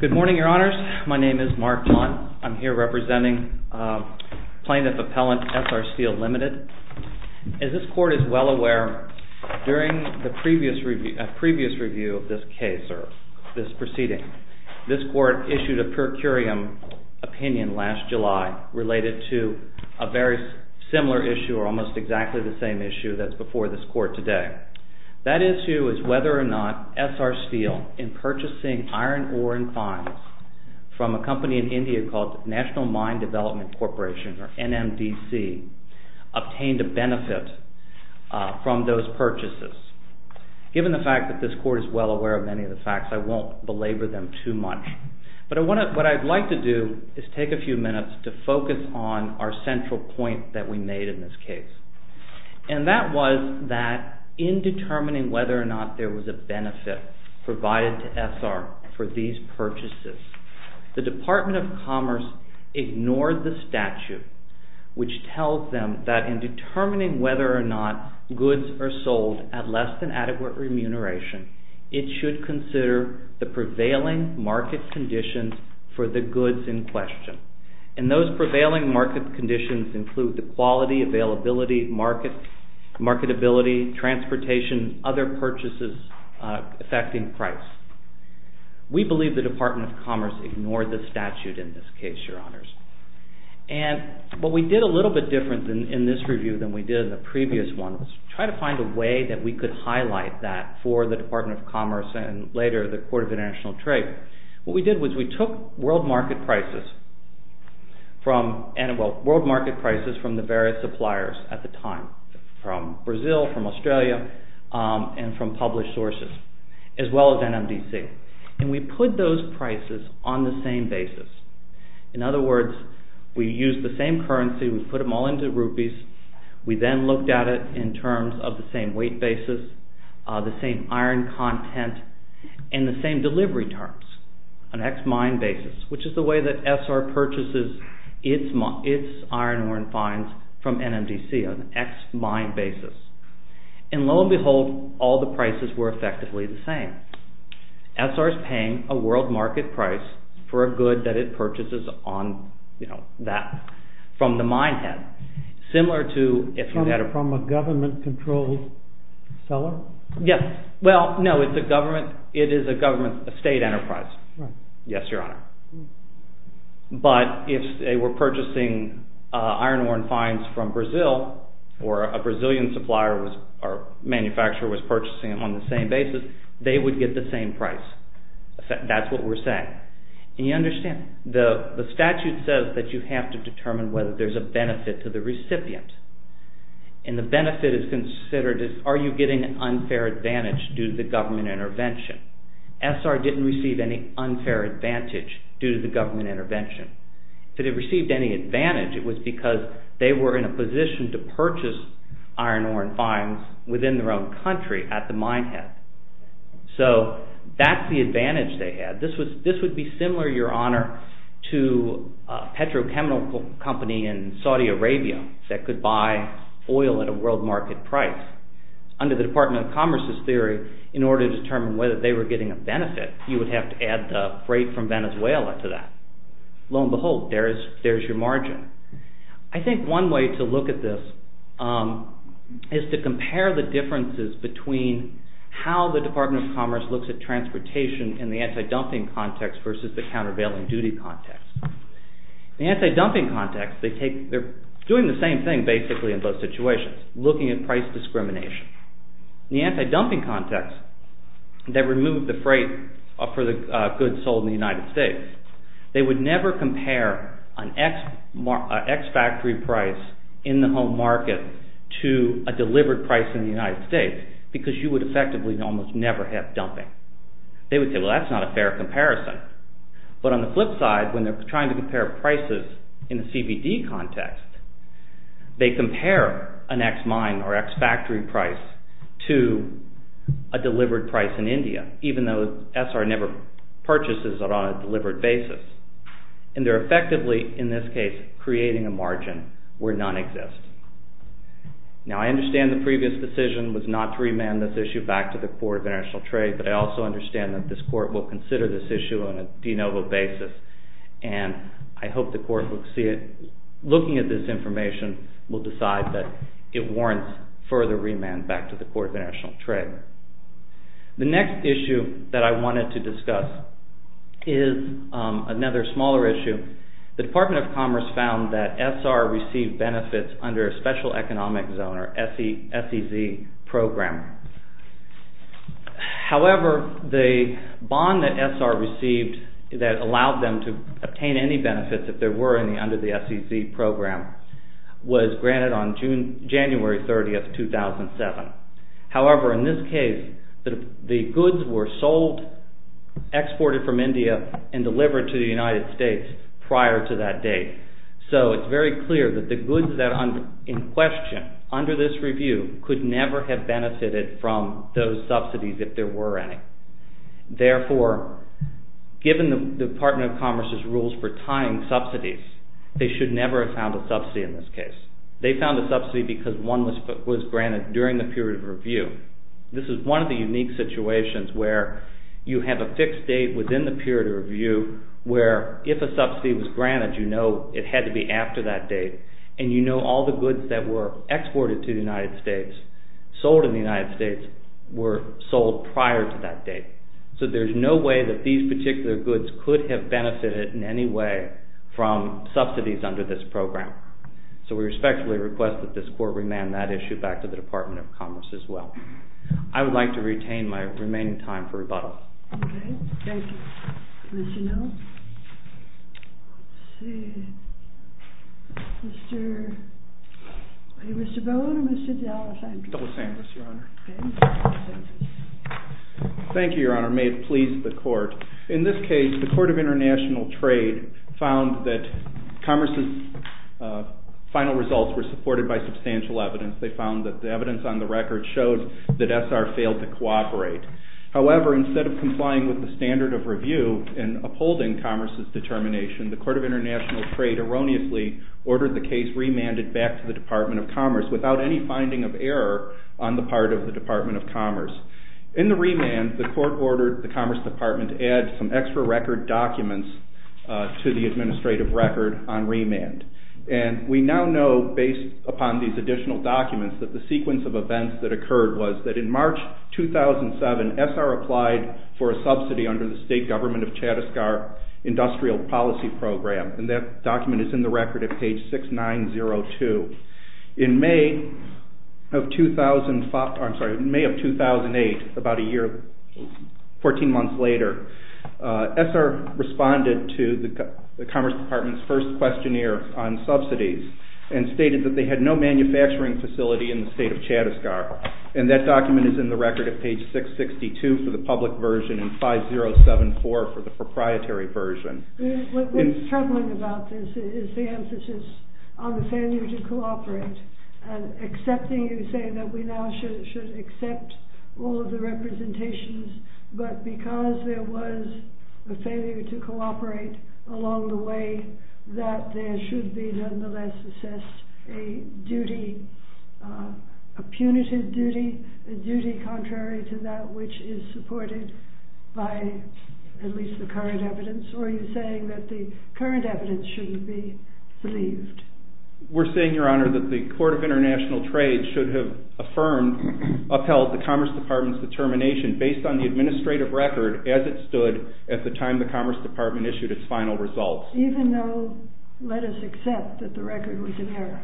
Good morning, Your Honors. My name is Mark Plante. I'm here representing Plaintiff Appellant ESSAR STEEL Ltd. As this Court is well aware, during a previous review of this case or this proceeding, this Court issued a per curiam opinion last July related to a very similar issue or almost exactly the same issue that's before this Court today. That issue is whether or not ESSAR STEEL in purchasing iron ore and fines from a company in India called National Mine Development Corporation or NMDC obtained a benefit from those purchases. Given the fact that this Court is well aware of many of the facts, I won't belabor them too much. But what I'd like to do is take a few minutes to focus on our central point that we made in this case. And that was that in determining whether or not there was a benefit provided to ESSAR for these purchases, the Department of Commerce ignored the statute which tells them that in determining whether or not goods are sold at less than adequate remuneration, it should consider the prevailing market conditions for the goods in question. And those prevailing market conditions include the quality, availability, marketability, transportation, other purchases affecting price. We believe the Department of Commerce ignored the statute in this case, Your Honors. And what we did a little bit different in this review than we did in the previous one was try to find a way that we could highlight that for the Department of Commerce and later the Court of International Trade. What we did was we took world market prices from the various suppliers at the time, from Brazil, from Australia, and from published sources, as well as NMDC. And we put those prices on the same basis. In other words, we used the same currency, we put them all into rupees, we then looked at it in terms of the same weight basis, the same iron content, and the same delivery terms, an ex-mine basis, which is the way that ESSAR purchases its iron ore and fines from NMDC, an ex-mine basis. And lo and behold, all the prices were effectively the same. ESSAR is paying a world market price for a good that it purchases on that, from the mine head, similar to... From a government-controlled seller? Yes. Well, no, it is a government state enterprise. Yes, Your Honor. But if they were purchasing iron ore and fines from Brazil, or a Brazilian supplier or manufacturer was purchasing them on the same basis, they would get the same price. That's what we're saying. And you understand, the statute says that you have to determine whether there's a benefit to the recipient. And the benefit is considered as, are you getting an unfair advantage due to the government intervention? ESSAR didn't receive any unfair advantage due to the government intervention. If it had received any advantage, it was because they were in a position to purchase iron ore and fines within their own country at the mine head. So that's the advantage they had. This would be similar, Your Honor, to a petrochemical company in Saudi Arabia that could buy oil at a world market price. Under the Department of Commerce's theory, in order to determine whether they were getting a benefit, you would have to add the freight from Venezuela to that. Lo and behold, there's your margin. I think one way to look at this is to compare the differences between how the Department of Commerce looks at transportation in the anti-dumping context versus the countervailing duty context. In the anti-dumping context, they're doing the same thing basically in both situations, looking at price discrimination. In the anti-dumping context, they remove the freight for the goods sold in the United States. They would never compare an ex-factory price in the home market to a delivered price in the United States because you would effectively almost never have dumping. They would say, well, that's not a fair comparison. But on the flip side, when they're trying to compare prices in the CBD context, they compare an ex-mine or ex-factory price to a delivered price in India, even though SR never purchases it on a delivered basis. And they're effectively, in this case, creating a margin where none exist. Now I understand the previous decision was not to remand this issue back to the Court of International Trade, but I also understand that this Court will consider this issue on a de novo basis. And I hope the Court will see it. Looking at this information will decide that it warrants further remand back to the Court of International Trade. The next issue that I wanted to discuss is another smaller issue. The Department of Commerce found that SR received benefits under a special economic zone or SEZ program. However, the bond that SR received that allowed them to obtain any benefits, if there were any, under the SEZ program, was granted on January 30, 2007. However, in this case, the goods were sold, exported from India, and delivered to India. So SR, under this review, could never have benefited from those subsidies if there were any. Therefore, given the Department of Commerce's rules for tying subsidies, they should never have found a subsidy in this case. They found a subsidy because one was granted during the period of review. This is one of the unique situations where you have a fixed date within the period of review where, if a subsidy was granted, you know it had to be after that date, and you know all the goods that were exported to the United States, sold in the United States, were sold prior to that date. So there's no way that these particular goods could have benefited in any way from subsidies under this program. So we respectfully request that this Court remand that issue back to the Department of Commerce as well. I would like to retain my remaining time for rebuttal. Okay, thank you. Commissioner? Mr. Bowen or Mr. De Los Angeles? De Los Angeles, Your Honor. Okay, Mr. De Los Angeles. Thank you, Your Honor. May it please the Court. In this case, the Court of International Trade found that Commerce's final results were supported by substantial evidence. They found that the compliance with the standard of review in upholding Commerce's determination, the Court of International Trade erroneously ordered the case remanded back to the Department of Commerce without any finding of error on the part of the Department of Commerce. In the remand, the Court ordered the Commerce Department to add some extra record documents to the administrative record on remand. And we now know, based upon these additional documents, that the sequence of events that occurred was that in March 2007, ESSAR applied for a subsidy under the state government of Chattisgarh Industrial Policy Program. And that document is in the record at page 6902. In May of 2005, I'm sorry, in May of 2008, about a year, 14 months later, ESSAR responded to the Commerce Department's first questionnaire on subsidies and stated that they had no manufacturing facility in the state of Chattisgarh. And that document is in the record at page 662 for the public version and 5074 for the proprietary version. What's troubling about this is the emphasis on the failure to cooperate and accepting, you say, that we now should accept all of the representations, but because there was a failure to cooperate along the way, that there should be, nonetheless, assessed a duty, a punitive duty, a duty contrary to that which is supported by at least the current evidence? Or are you saying that the current evidence shouldn't be believed? We're saying, Your Honor, that the Court of International Trade should have affirmed, upheld the Commerce Department's determination based on the administrative record as it stood at the time the Commerce Department issued its final results. Even though, let us accept that the record was in error.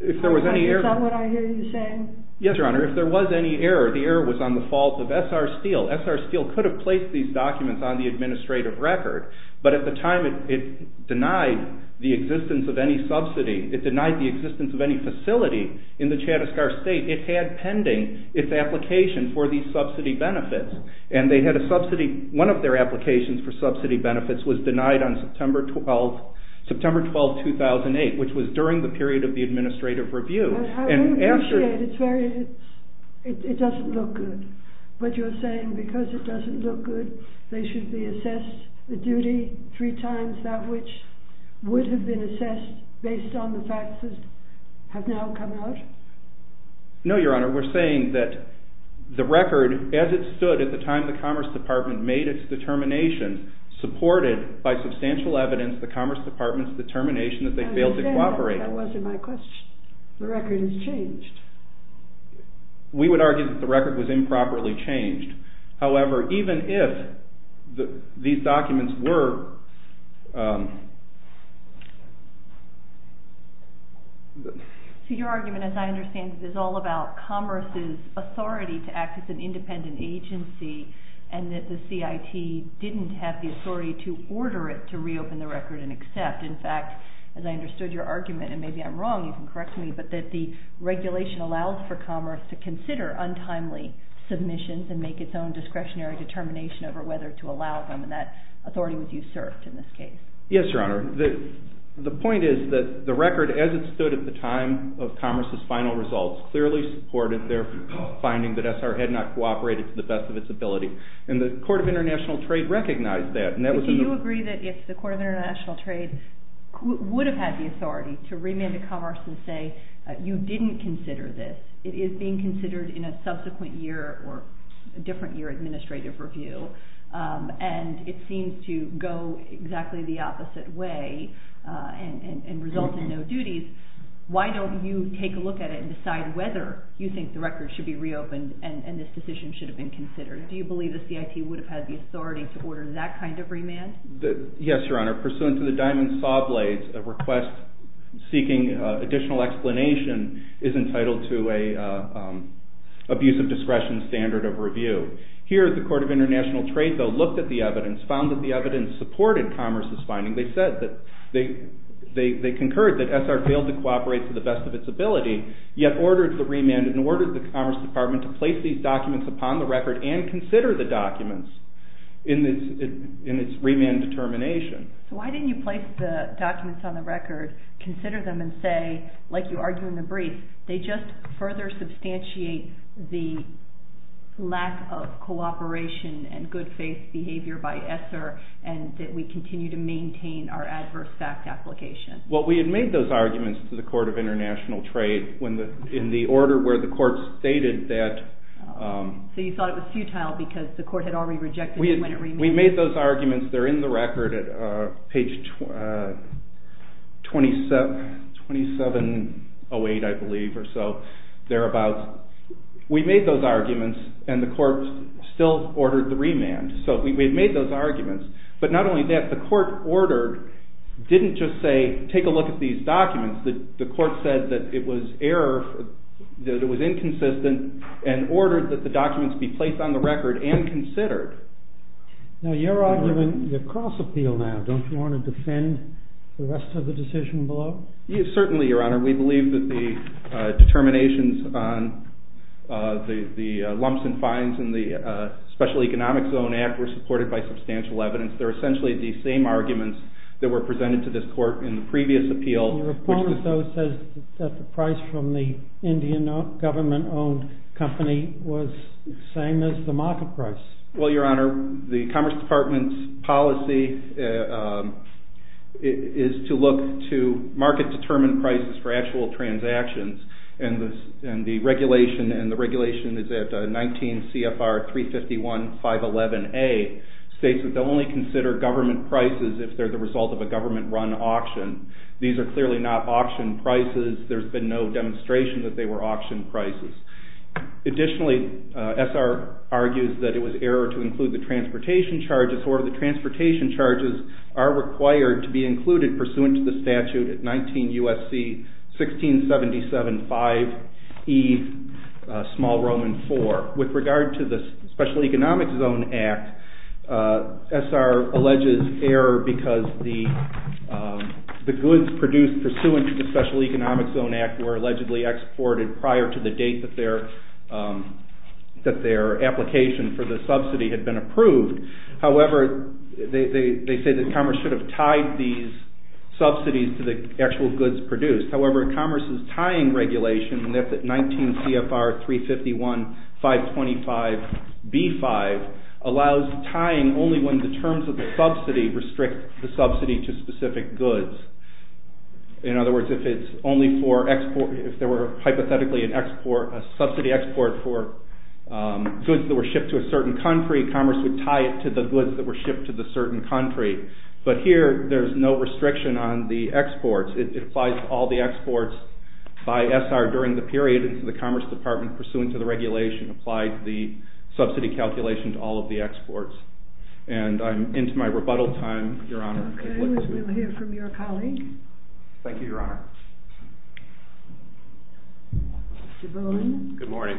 Is that what I hear you saying? Yes, Your Honor. If there was any error, the error was on the fault of ESSAR Steel. ESSAR Steel could have placed these documents on the administrative record, but at the time it denied the existence of any subsidy. It denied the existence of any facility in the Chattisgarh state. It had pending its application for these subsidy benefits, was denied on September 12, 2008, which was during the period of the administrative review. I don't appreciate it. It doesn't look good. But you're saying because it doesn't look good, they should be assessed, the duty, three times that which would have been assessed based on the facts that have now come out? No, Your Honor. We're saying that the record, as it stood at the time the Commerce Department made its determination, supported by substantial evidence, the Commerce Department's determination that they failed to cooperate. I understand that, but that wasn't my question. The record has changed. We would argue that the record was improperly changed. However, even if these documents were... So your argument, as I understand it, is all about Commerce's authority to act as an independent agency and that the CIT didn't have the authority to order it to reopen the record and accept. In fact, as I understood your argument, and maybe I'm wrong, you can correct me, but that the regulation allows for Commerce to consider untimely submissions and make its own discretionary determination over whether to allow them, and that authority was usurped in this case. Yes, Your Honor. The point is that the record, as it stood at the time of Commerce's final results, clearly supported their finding that SR had not cooperated to the best of its ability, and the Court of International Trade recognized that. Do you agree that if the Court of International Trade would have had the authority to remand to Commerce and say, you didn't consider this, it is being considered in a subsequent year or a different year administrative review, and it seems to go exactly the opposite way and result in no duties, why don't you take a look at it and decide whether you think the record should be reopened and this decision should have been considered? Do you believe the CIT would have had the authority to order that kind of remand? Yes, Your Honor. Pursuant to the diamond saw blades, a request seeking additional explanation is entitled to an abuse of discretion standard of review. Here, the Court of International Trade, though, looked at the evidence, found that the evidence supported Commerce's finding. They concurred that SR failed to cooperate to the best of its ability, yet ordered the Commerce Department to place these documents upon the record and consider the documents in its remand determination. Why didn't you place the documents on the record, consider them and say, like you argue in the brief, they just further substantiate the lack of cooperation and good faith behavior by SR and that we continue to maintain our adverse fact application? Well, we had made those arguments to the Court of International Trade in the order where the Court stated that... So you thought it was futile because the Court had already rejected them when it remanded? We made those arguments. They're in the record at page 2708, I believe, or so. We made those arguments and the Court still ordered the remand. So we made those arguments. But not only that, the Court ordered, didn't just say, take a look at these documents. The Court said that it was error, that it was inconsistent and ordered that the documents be placed on the record and considered. Now, you're arguing the cross-appeal now. Don't you want to defend the rest of the decision below? Certainly, Your Honor. We believe that the determinations on the lumps and fines in the Special Economic Zone Act were supported by substantial evidence. They're essentially the same arguments that were presented to this Court in the previous appeal. Your opponent, though, says that the price from the Indian government-owned company was the same as the market price. Well, Your Honor, the Commerce Department's policy is to look to market-determined prices for actual transactions, and the regulation, and the regulation is at 19 CFR 351, 511A, states that they'll only consider government prices if they're the result of a government-run auction. These are clearly not auction prices. There's been no demonstration that they were auction prices. Additionally, SR argues that it was error to include the transportation charges, or the transportation charges are required to be included pursuant to the statute at 19 U.S.C. 1677, 5E, small Roman 4. With regard to the Special Economic Zone Act, SR alleges error because the goods produced pursuant to the Special Economic Zone Act were allegedly exported prior to the date that their application for the subsidy had been approved. However, they say that Commerce should have tied these subsidies to the actual goods produced. However, Commerce's tying regulation, and that's at 19 CFR 351, 525B5, allows tying only when the terms of the subsidy restrict the subsidy to specific goods. In other words, if there were hypothetically a subsidy export for goods that were shipped to a certain country, Commerce would tie it to the goods that were shipped to the certain country. But here, there's no restriction on the exports. It applies to all the exports by SR during the period into the Commerce Department, pursuant to the regulation applied to the subsidy calculation to all of the exports. And I'm into my rebuttal time, Your Honor. Okay, we'll hear from your colleague. Thank you, Your Honor. Mr. Boland. Good morning.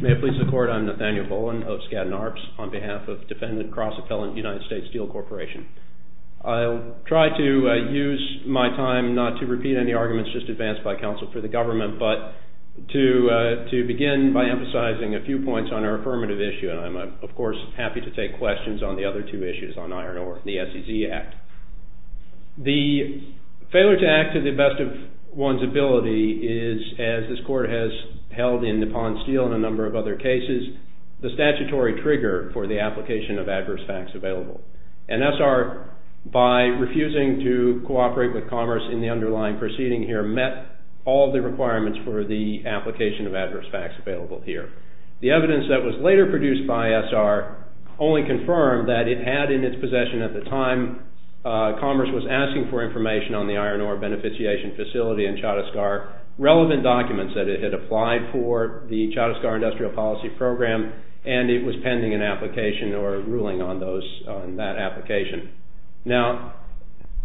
May it please the Court, I'm Nathaniel Boland of Skadden Arps on behalf of Defendant Cross-Appellant United States Steel Corporation. I'll try to use my time not to repeat any arguments just advanced by counsel for the government, but to begin by emphasizing a few points on our affirmative issue, and I'm, of course, happy to take questions on the other two issues on iron ore, the SEC Act. The failure to act to the best of one's ability is, as this Court has held in Nippon Steel and a number of other cases, the statutory trigger for the application of adverse facts available. And SR, by refusing to cooperate with Commerce in the underlying proceeding here, met all the requirements for the application of adverse facts available here. The evidence that was later produced by SR only confirmed that it had in its possession at the time Commerce was asking for information on the iron ore beneficiation facility in Chattisgarh, relevant documents that it had applied for the Chattisgarh Industrial Policy Program, and it was pending an application or ruling on that application. Now,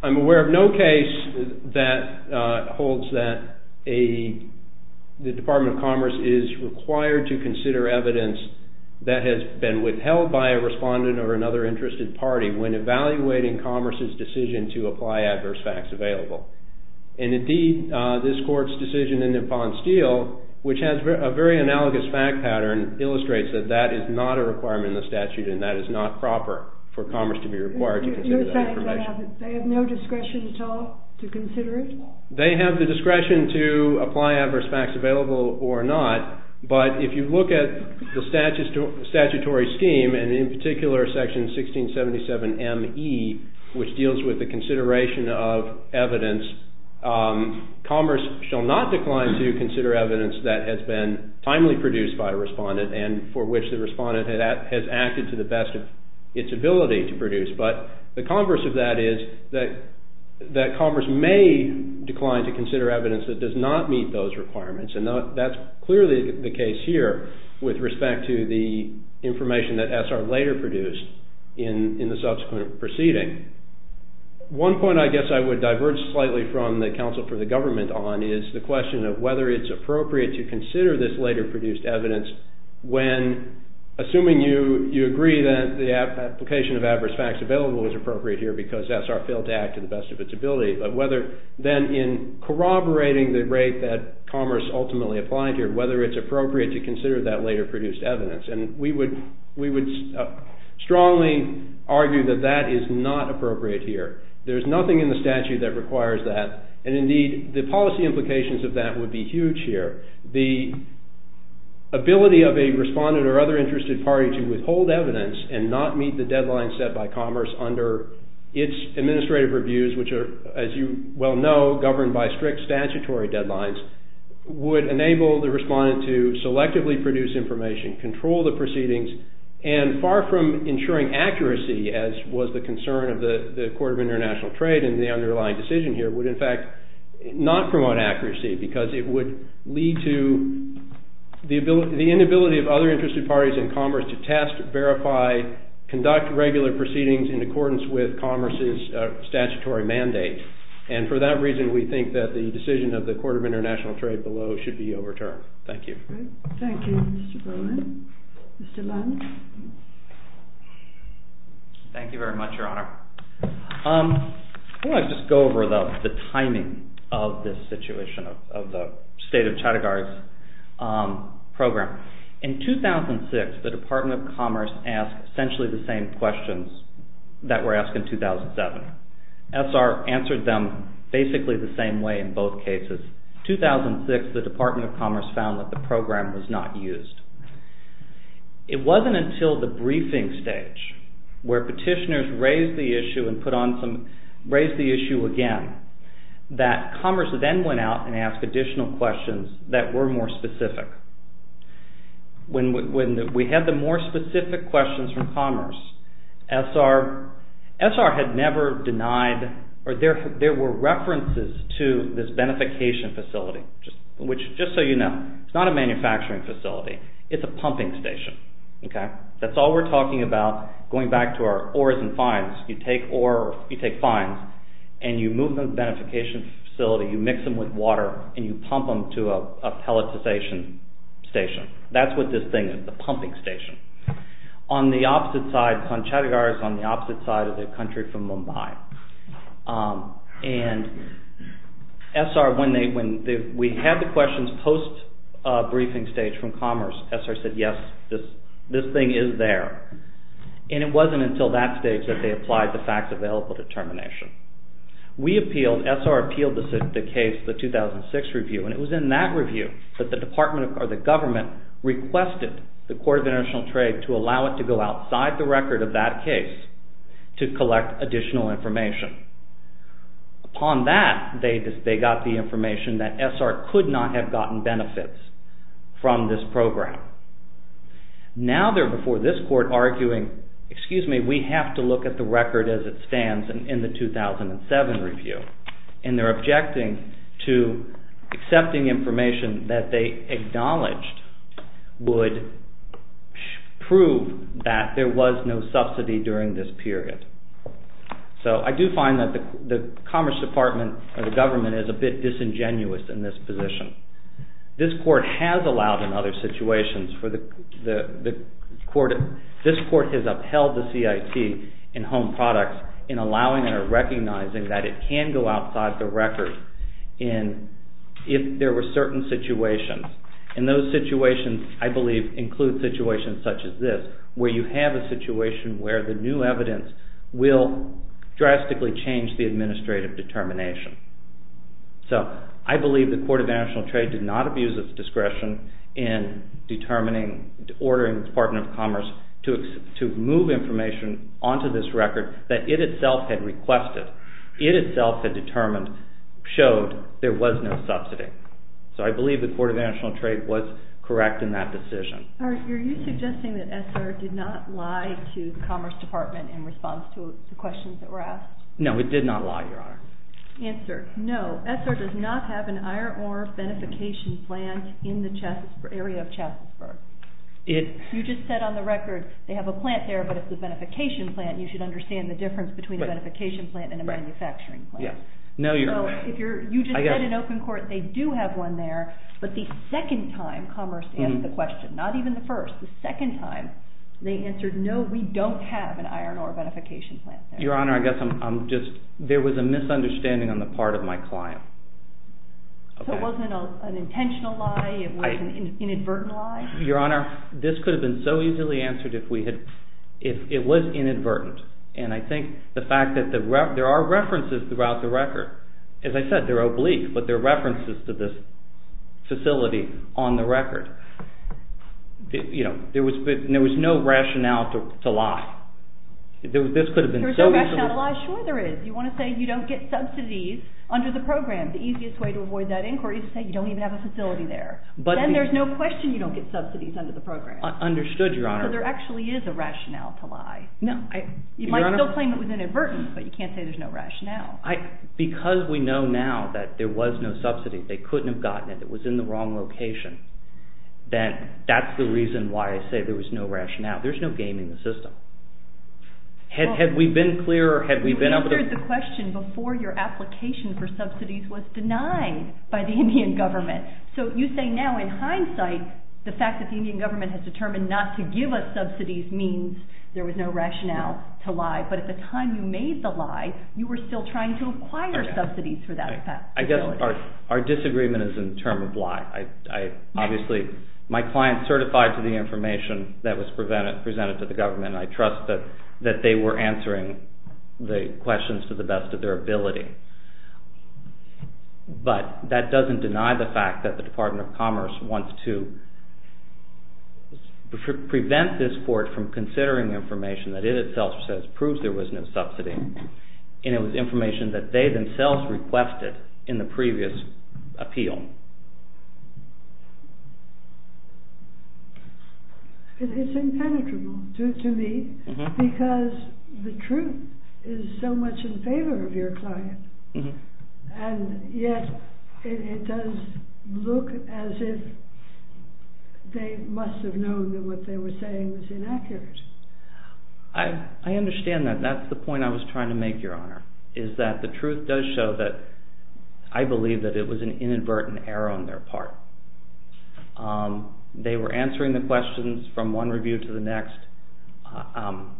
I'm aware of no case that holds that the Department of Commerce is required to consider evidence that has been withheld by a respondent or another interested party when evaluating Commerce's decision to apply adverse facts available. And indeed, this Court's decision in Nippon Steel, which has a very analogous fact pattern, illustrates that that is not a requirement in the statute, and that is not proper for Commerce to be required to consider that information. You're saying they have no discretion at all to consider it? They have the discretion to apply adverse facts available or not, but if you look at the statutory scheme, and in particular Section 1677 M.E., which deals with the consideration of evidence, Commerce shall not decline to consider evidence that has been timely produced by a respondent and for which the respondent has acted to the best of its ability to produce. But the converse of that is that Commerce may decline to consider evidence that does not meet those requirements, and that's clearly the case here with respect to the information that ESSAR later produced in the subsequent proceeding. One point I guess I would diverge slightly from the counsel for the government on is the question of whether it's appropriate to consider this later produced evidence when, assuming you agree that the application of adverse facts available is appropriate here because ESSAR failed to act to the best of its ability, but whether then in corroborating the rate that Commerce ultimately applied here, whether it's appropriate to consider that later produced evidence. We would strongly argue that that is not appropriate here. There's nothing in the statute that requires that, and indeed the policy implications of that would be huge here. The ability of a respondent or other interested party to withhold evidence and not meet the deadline set by Commerce under its administrative reviews, which are, as you well know, governed by strict statutory deadlines, would enable the respondent to selectively produce information, control the proceedings, and far from ensuring accuracy, as was the concern of the Court of International Trade in the underlying decision here, would in fact not promote accuracy because it would lead to the inability of other interested parties in Commerce to test, verify, conduct regular proceedings in accordance with Commerce's statutory mandate. And for that reason, we think that the decision of the Court of International Trade below should be overturned. Thank you. Thank you, Mr. Bowen. Mr. Lund? Thank you very much, Your Honor. I want to just go over the timing of this situation of the State of Chattagarsh program. In 2006, the Department of Commerce asked essentially the same questions that were asked in 2007. SR answered them basically the same way in both cases. In 2006, the Department of Commerce found that the program was not used. It wasn't until the briefing stage, where petitioners raised the issue again, that Commerce then went out and asked additional questions that were more specific. When we had the more specific questions from Commerce, SR had never denied, or there were references to this beneficiation facility, just so you know. It's not a manufacturing facility. It's a pumping station. That's all we're talking about going back to our ores and fines. You take ore, you take fines, and you move them to the beneficiation facility, you mix them with water, and you pump them to a pelletization station. That's what this thing is, a pumping station. On the opposite side, Chattagarsh is on the opposite side of the country from Mumbai. And SR, when we had the questions post-briefing stage from Commerce, SR said, yes, this thing is there. And it wasn't until that stage that they applied the facts available determination. We appealed, SR appealed the case, the 2006 review, and it was in that review that the government requested the Court of International Trade to allow it to go outside the record of that case to collect additional information. Upon that, they got the information that SR could not have gotten benefits from this program. Now they're before this court arguing, excuse me, we have to look at the record as it stands in the 2007 review. And they're objecting to accepting information that they acknowledged would prove that there was no subsidy during this period. So I do find that the Commerce Department, or the government, is a bit disingenuous in this position. This court has allowed in other situations, this court has upheld the CIT in Home Products in allowing or recognizing that it can go outside the record if there were certain situations. And those situations, I believe, include situations such as this, where you have a situation where the new evidence will drastically change the administrative determination. So I believe the Court of International Trade did not abuse its discretion in determining, ordering the Department of Commerce to move information onto this record that it itself had requested, it itself had determined, showed there was no subsidy. So I believe the Court of International Trade was correct in that decision. Are you suggesting that SR did not lie to the Commerce Department in response to the questions that were asked? No, it did not lie, Your Honor. Answer, no. SR does not have an iron ore beneficiation plant in the area of Chastisburg. You just said on the record, they have a plant there, but it's a beneficiation plant, and you should understand the difference between a beneficiation plant and a manufacturing plant. No, Your Honor. You just said in open court they do have one there, but the second time Commerce asked the question, not even the first, the second time they answered, no, we don't have an iron ore beneficiation plant there. Your Honor, I guess I'm just, there was a misunderstanding on the part of my client. So it wasn't an intentional lie, it was an inadvertent lie? Your Honor, this could have been so easily answered if it was inadvertent, and I think the fact that there are references throughout the record. As I said, they're oblique, but they're references to this facility on the record. There was no rationale to lie. There was no rationale to lie? Sure there is. You want to say you don't get subsidies under the program. The easiest way to avoid that inquiry is to say you don't even have a facility there. Then there's no question you don't get subsidies under the program. Understood, Your Honor. So there actually is a rationale to lie. You might still claim it was inadvertent, but you can't say there's no rationale. Because we know now that there was no subsidy, they couldn't have gotten it, it was in the wrong location, then that's the reason why I say there was no rationale. There's no game in the system. Had we been clear? You answered the question before your application for subsidies was denied by the Indian government. So you say now, in hindsight, the fact that the Indian government has determined not to give us subsidies means there was no rationale to lie. But at the time you made the lie, you were still trying to acquire subsidies for that facility. I guess our disagreement is in terms of lie. Obviously, my client is certified to the information that was presented to the government, and I trust that they were answering the questions to the best of their ability. But that doesn't deny the fact that the Department of Commerce wants to prevent this court from considering information that it itself says proves there was no subsidy, and it was information that they themselves requested in the previous appeal. It's impenetrable to me, because the truth is so much in favor of your client, and yet it does look as if they must have known that what they were saying was inaccurate. I understand that. That's the point I was trying to make, Your Honor, is that the truth does show that I believe that it was an inadvertent error on their part. They were answering the questions from one review to the next. I'm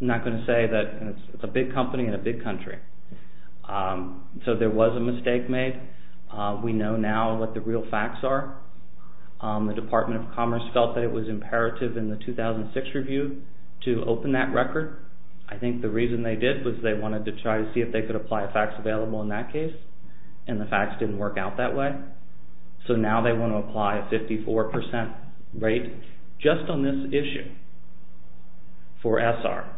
not going to say that it's a big company in a big country. So there was a mistake made. We know now what the real facts are. The Department of Commerce felt that it was imperative in the 2006 review to open that record. I think the reason they did was they wanted to try to see if they could apply a fax available in that case, and the fax didn't work out that way. So now they want to apply a 54% rate just on this issue for SR,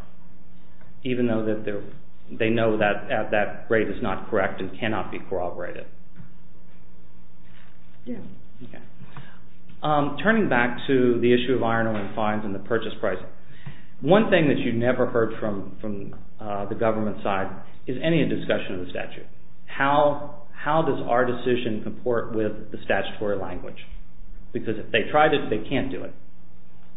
even though they know that that rate is not correct and cannot be corroborated. Turning back to the issue of iron-only fines and the purchase price, one thing that you never heard from the government side is any discussion of the statute. How does our decision comport with the statutory language? Because if they tried it, they can't do it,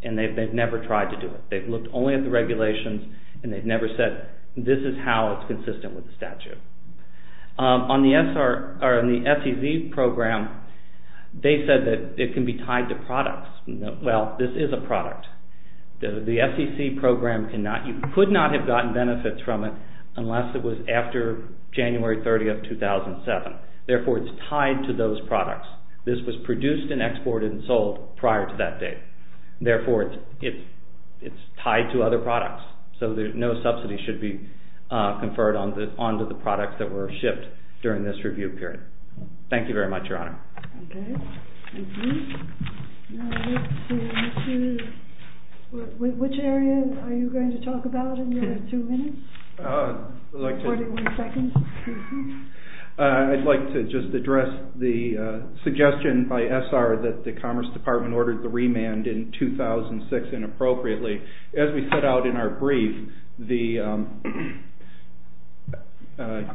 and they've never tried to do it. They've looked only at the regulations, and they've never said, this is how it's consistent with the statute. On the SEC program, they said that it can be tied to products. Well, this is a product. The SEC program could not have gotten benefits from it unless it was after January 30, 2007. Therefore, it's tied to those products. This was produced and exported and sold prior to that date. Therefore, it's tied to other products. So no subsidy should be conferred onto the products that were shipped during this review period. Thank you very much, Your Honor. Okay. Which area are you going to talk about in your two minutes? I'd like to just address the suggestion by SR that the Commerce Department ordered the remand in 2006 inappropriately. As we set out in our brief, the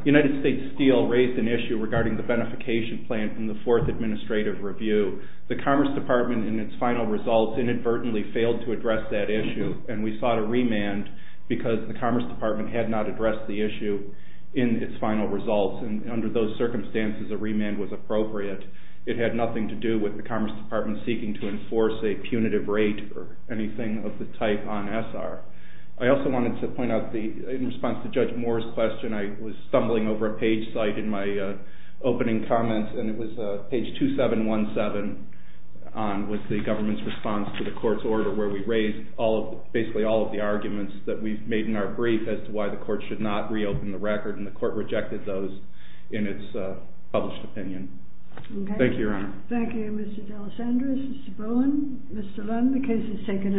United States Steel raised an issue regarding the beneficiation plan from the Fourth Administrative Review. The Commerce Department, in its final results, inadvertently failed to address that issue, and we sought a remand because the Commerce Department had not addressed the issue in its final results. And under those circumstances, a remand was appropriate. It had nothing to do with the Commerce Department seeking to enforce a punitive rate or anything of the type on SR. I also wanted to point out, in response to Judge Moore's question, I was stumbling over a page site in my opening comments, and it was page 2717 with the government's response to the court's order where we raised basically all of the arguments that we've made in our brief as to why the court should not reopen the record, and the court rejected those in its published opinion. Okay. Thank you, Your Honor. Thank you, Mr. de los Andres, Mr. Bowen, Mr. Lunn. The case is taken under submission.